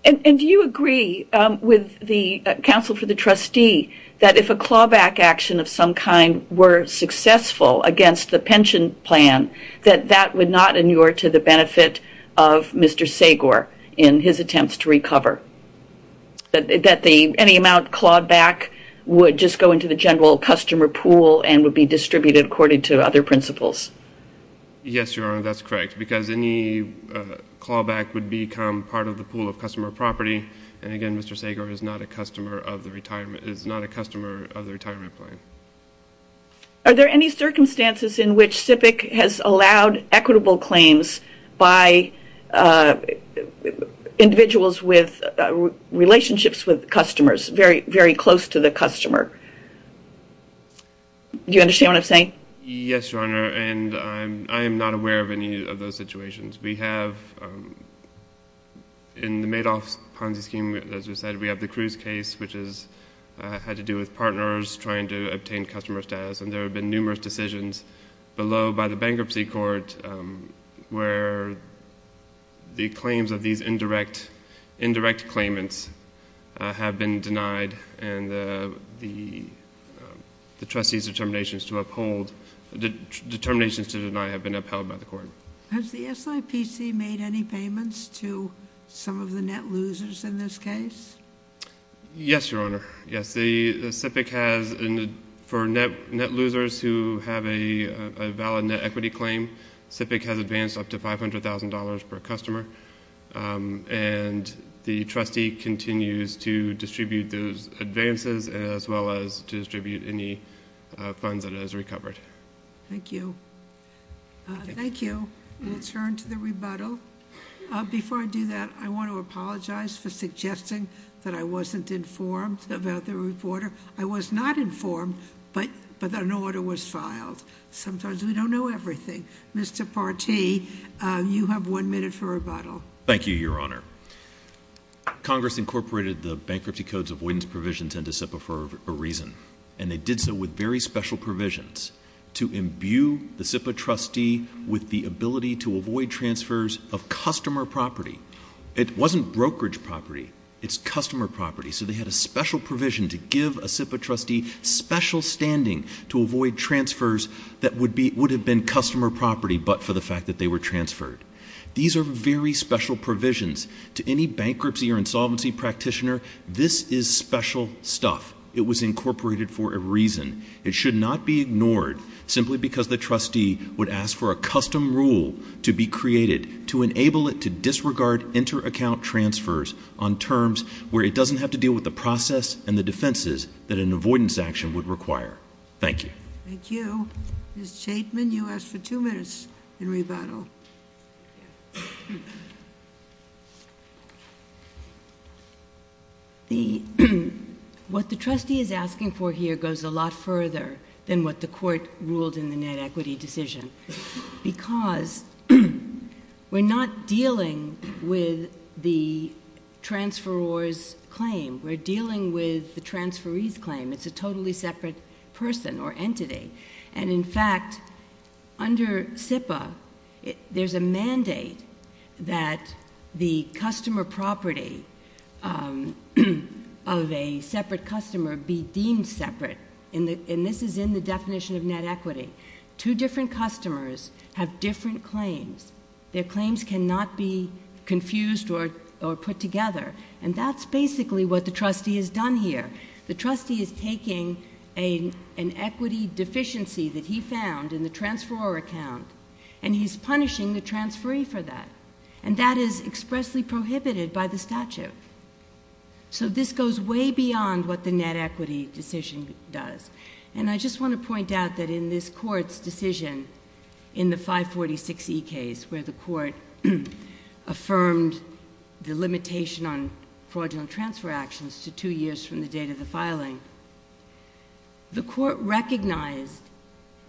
And do you agree with the counsel for the trustee that if a clawback action of some kind were successful against the pension plan, that that would not inure to the benefit of Mr. Sager in his attempts to recover? That any amount clawed back would just go into the general customer pool and would be distributed according to other principles? Yes, Your Honor, that's correct. Because any clawback would become part of the pool of customer property. And again, Mr. Sager is not a customer of the retirement plan. Are there any circumstances in which SIPC has allowed equitable claims by individuals with relationships with customers very close to the customer? Do you understand what I'm saying? Yes, Your Honor, and I am not aware of any of those situations. We have in the Madoff Ponzi scheme, as you said, we have the Cruz case, which has had to do with partners trying to obtain customer status, and there have been numerous decisions below by the bankruptcy court where the claims of these indirect claimants have been denied, and the trustee's determinations to deny have been upheld by the court. Has the SIPC made any payments to some of the net losers in this case? Yes, Your Honor, yes. For net losers who have a valid net equity claim, SIPC has advanced up to $500,000 per customer, and the trustee continues to distribute those advances as well as to distribute any funds that it has recovered. Thank you. Thank you. We'll turn to the rebuttal. Before I do that, I want to apologize for suggesting that I wasn't informed about the reporter. I was not informed, but an order was filed. Sometimes we don't know everything. Mr. Partee, you have one minute for rebuttal. Thank you, Your Honor. Congress incorporated the Bankruptcy Codes Avoidance Provisions into SIPA for a reason, and they did so with very special provisions to imbue the SIPA trustee with the ability to avoid transfers of customer property. It wasn't brokerage property. It's customer property, so they had a special provision to give a SIPA trustee special standing to avoid transfers that would have been customer property but for the fact that they were transferred. These are very special provisions. To any bankruptcy or insolvency practitioner, this is special stuff. It was incorporated for a reason. It should not be ignored simply because the trustee would ask for a custom rule to be created to enable it to disregard inter-account transfers on terms where it doesn't have to deal with the process and the defenses that an avoidance action would require. Thank you. Thank you. Ms. Chaitman, you asked for two minutes in rebuttal. What the trustee is asking for here goes a lot further than what the court ruled in the net equity decision because we're not dealing with the transferor's claim. We're dealing with the transferee's claim. It's a totally separate person or entity. In fact, under SIPA, there's a mandate that the customer property of a separate customer be deemed separate, and this is in the definition of net equity. Two different customers have different claims. Their claims cannot be confused or put together, and that's basically what the trustee has done here. The trustee is taking an equity deficiency that he found in the transferor account, and he's punishing the transferee for that, and that is expressly prohibited by the statute. So this goes way beyond what the net equity decision does. And I just want to point out that in this court's decision in the 546E case where the court affirmed the limitation on fraudulent transfer actions to two years from the date of the filing, the court recognized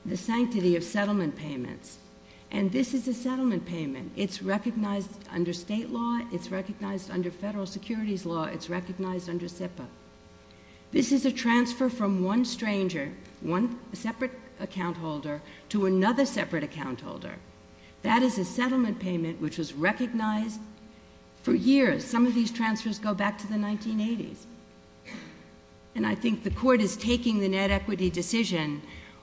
the sanctity of settlement payments, and this is a settlement payment. It's recognized under state law. It's recognized under federal securities law. It's recognized under SIPA. This is a transfer from one stranger, one separate account holder, to another separate account holder. That is a settlement payment which was recognized for years. Some of these transfers go back to the 1980s. And I think the court is taking the net equity decision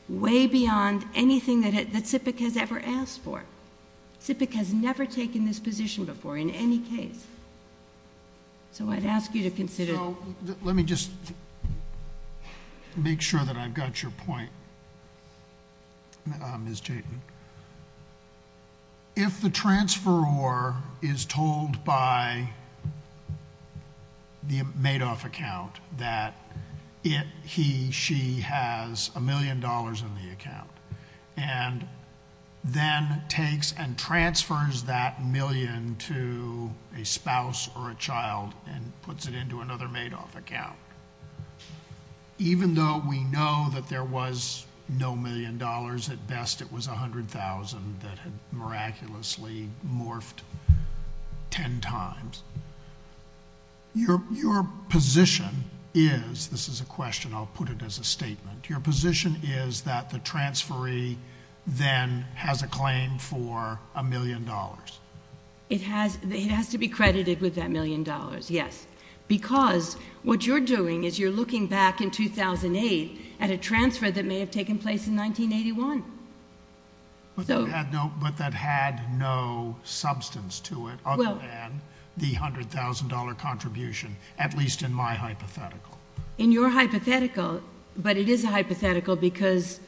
way beyond anything that SIPA has ever asked for. SIPA has never taken this position before in any case. So I'd ask you to consider... and puts it into another Madoff account. Even though we know that there was no million dollars, at best it was $100,000 that had miraculously morphed ten times. Your position is... this is a question. I'll put it as a statement. Your position is that the transferee then has a claim for a million dollars. It has to be credited with that million dollars, yes. Because what you're doing is you're looking back in 2008 at a transfer that may have taken place in 1981. But that had no substance to it other than the $100,000 contribution, at least in my hypothetical. In your hypothetical, but it is a hypothetical because,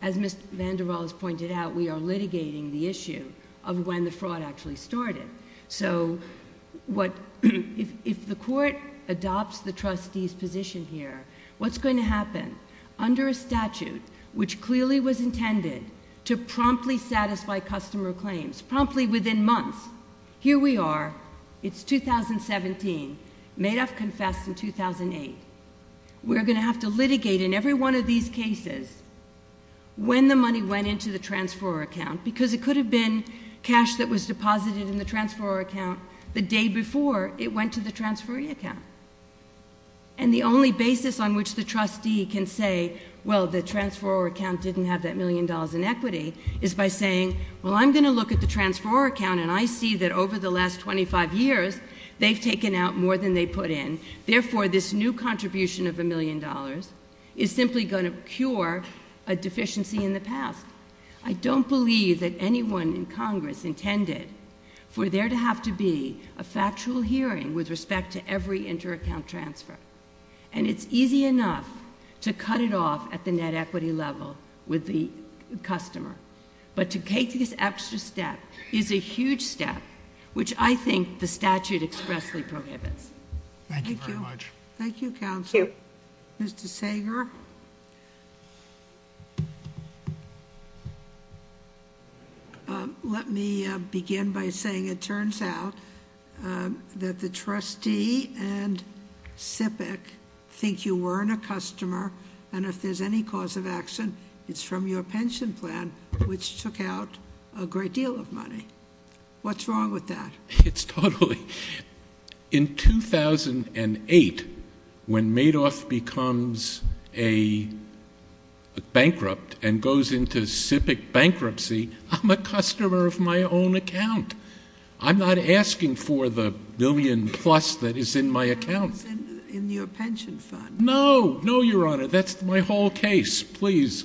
as Mr. VanderWaal has pointed out, we are litigating the issue of when the fraud actually started. So if the court adopts the trustee's position here, what's going to happen? Under a statute which clearly was intended to promptly satisfy customer claims, promptly within months, here we are, it's 2017, Madoff confessed in 2008. We're going to have to litigate in every one of these cases when the money went into the transferor account because it could have been cash that was deposited in the transferor account the day before it went to the transferee account. And the only basis on which the trustee can say, well, the transferor account didn't have that million dollars in equity, is by saying, well, I'm going to look at the transferor account, and I see that over the last 25 years they've taken out more than they put in. Therefore, this new contribution of $1 million is simply going to cure a deficiency in the past. I don't believe that anyone in Congress intended for there to have to be a factual hearing with respect to every inter-account transfer. And it's easy enough to cut it off at the net equity level with the customer. But to take this extra step is a huge step, which I think the statute expressly prohibits. Thank you very much. Thank you, Counselor. Thank you. Mr. Sager? Let me begin by saying it turns out that the trustee and SIPC think you weren't a customer, and if there's any cause of action, it's from your pension plan, which took out a great deal of money. What's wrong with that? In 2008, when Madoff becomes bankrupt and goes into SIPC bankruptcy, I'm a customer of my own account. I'm not asking for the billion plus that is in my account. It's in your pension fund. No, no, Your Honor. That's my whole case. Please.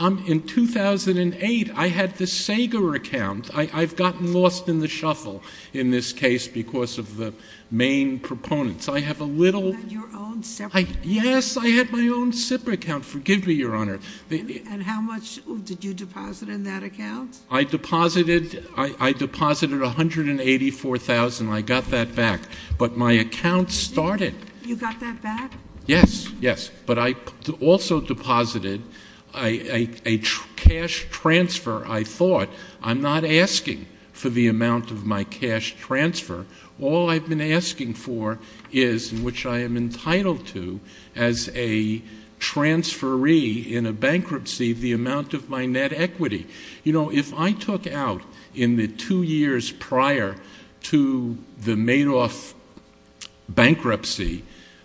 In 2008, I had the Sager account. I've gotten lost in the shuffle in this case because of the main proponents. I have a little. You had your own SIPC account. Yes, I had my own SIPC account. Forgive me, Your Honor. And how much did you deposit in that account? I deposited $184,000. I got that back. But my account started. You got that back? Yes, yes. But I also deposited a cash transfer, I thought. I'm not asking for the amount of my cash transfer. All I've been asking for is, which I am entitled to as a transferee in a bankruptcy, the amount of my net equity. You know, if I took out in the two years prior to the Madoff bankruptcy,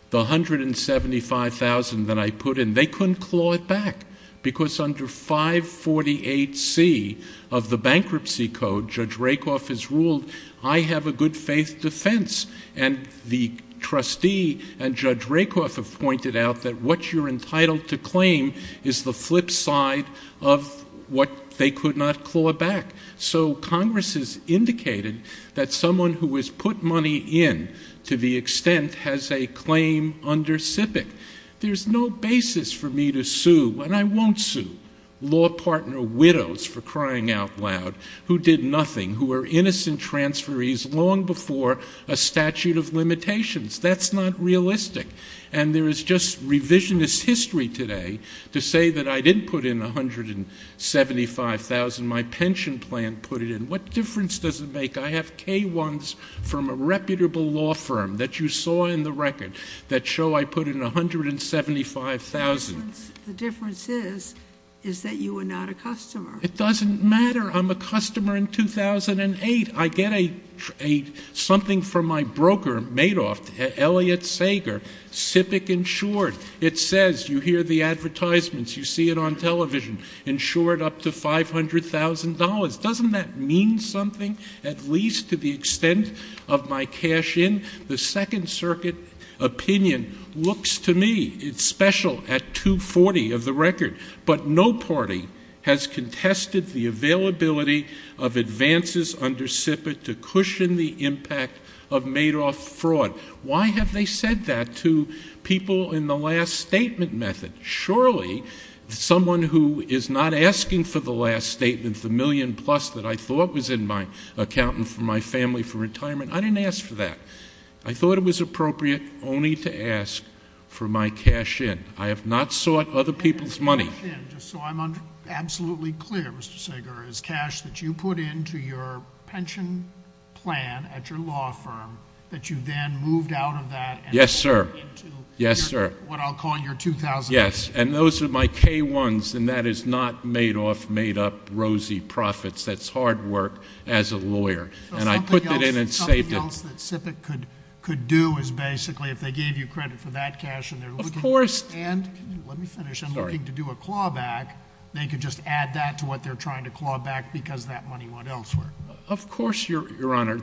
the $175,000 that I put in, they couldn't claw it back. Because under 548C of the bankruptcy code, Judge Rakoff has ruled, I have a good faith defense. And the trustee and Judge Rakoff have pointed out that what you're entitled to claim is the flip side of what they could not claw back. So Congress has indicated that someone who has put money in to the extent has a claim under SIPC. There's no basis for me to sue, and I won't sue law partner widows, for crying out loud, who did nothing, who were innocent transferees long before a statute of limitations. That's not realistic. And there is just revisionist history today to say that I didn't put in $175,000, my pension plan put it in. What difference does it make? I have K-1s from a reputable law firm that you saw in the record that show I put in $175,000. The difference is, is that you are not a customer. It doesn't matter. I'm a customer in 2008. I get something from my broker, Madoff, Elliot Sager, SIPC insured. It says, you hear the advertisements, you see it on television, insured up to $500,000. Doesn't that mean something, at least to the extent of my cash in? The Second Circuit opinion looks to me, it's special, at 240 of the record. But no party has contested the availability of advances under SIPC to cushion the impact of Madoff fraud. Why have they said that to people in the last statement method? Surely someone who is not asking for the last statement, the million plus that I thought was in my account and for my family for retirement, I didn't ask for that. I thought it was appropriate only to ask for my cash in. I have not sought other people's money. Just so I'm absolutely clear, Mr. Sager, is cash that you put into your pension plan at your law firm, that you then moved out of that and put into what I'll call your 2008? Yes, sir. And those are my K-1s, and that is not Madoff made up rosy profits. That's hard work as a lawyer. Something else that SIPC could do is basically, if they gave you credit for that cash, and they're looking to do a clawback, they could just add that to what they're trying to clawback because that money went elsewhere. Of course, Your Honor.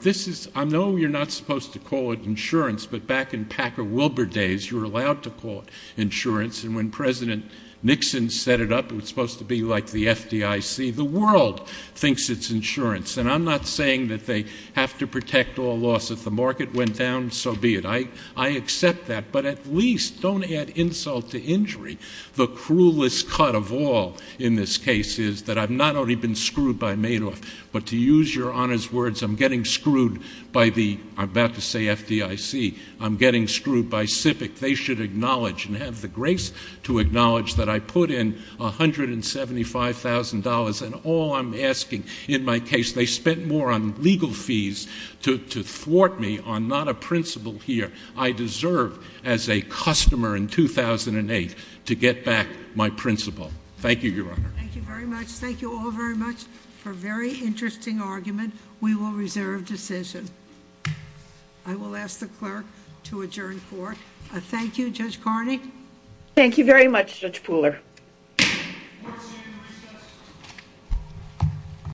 I know you're not supposed to call it insurance, but back in Packer-Wilbur days, you were allowed to call it insurance. And when President Nixon set it up, it was supposed to be like the FDIC. The world thinks it's insurance. And I'm not saying that they have to protect all laws. If the market went down, so be it. I accept that, but at least don't add insult to injury. The cruelest cut of all in this case is that I've not only been screwed by Madoff, but to use Your Honor's words, I'm getting screwed by the, I'm about to say FDIC, I'm getting screwed by SIPC. They should acknowledge and have the grace to acknowledge that I put in $175,000, and all I'm asking in my case, they spent more on legal fees to thwart me on not a principal here. I deserve, as a customer in 2008, to get back my principal. Thank you, Your Honor. Thank you very much. Thank you all very much for a very interesting argument. We will reserve decision. I will ask the clerk to adjourn court. Thank you. Judge Carney? Thank you very much, Judge Pooler. Court is adjourned at recess.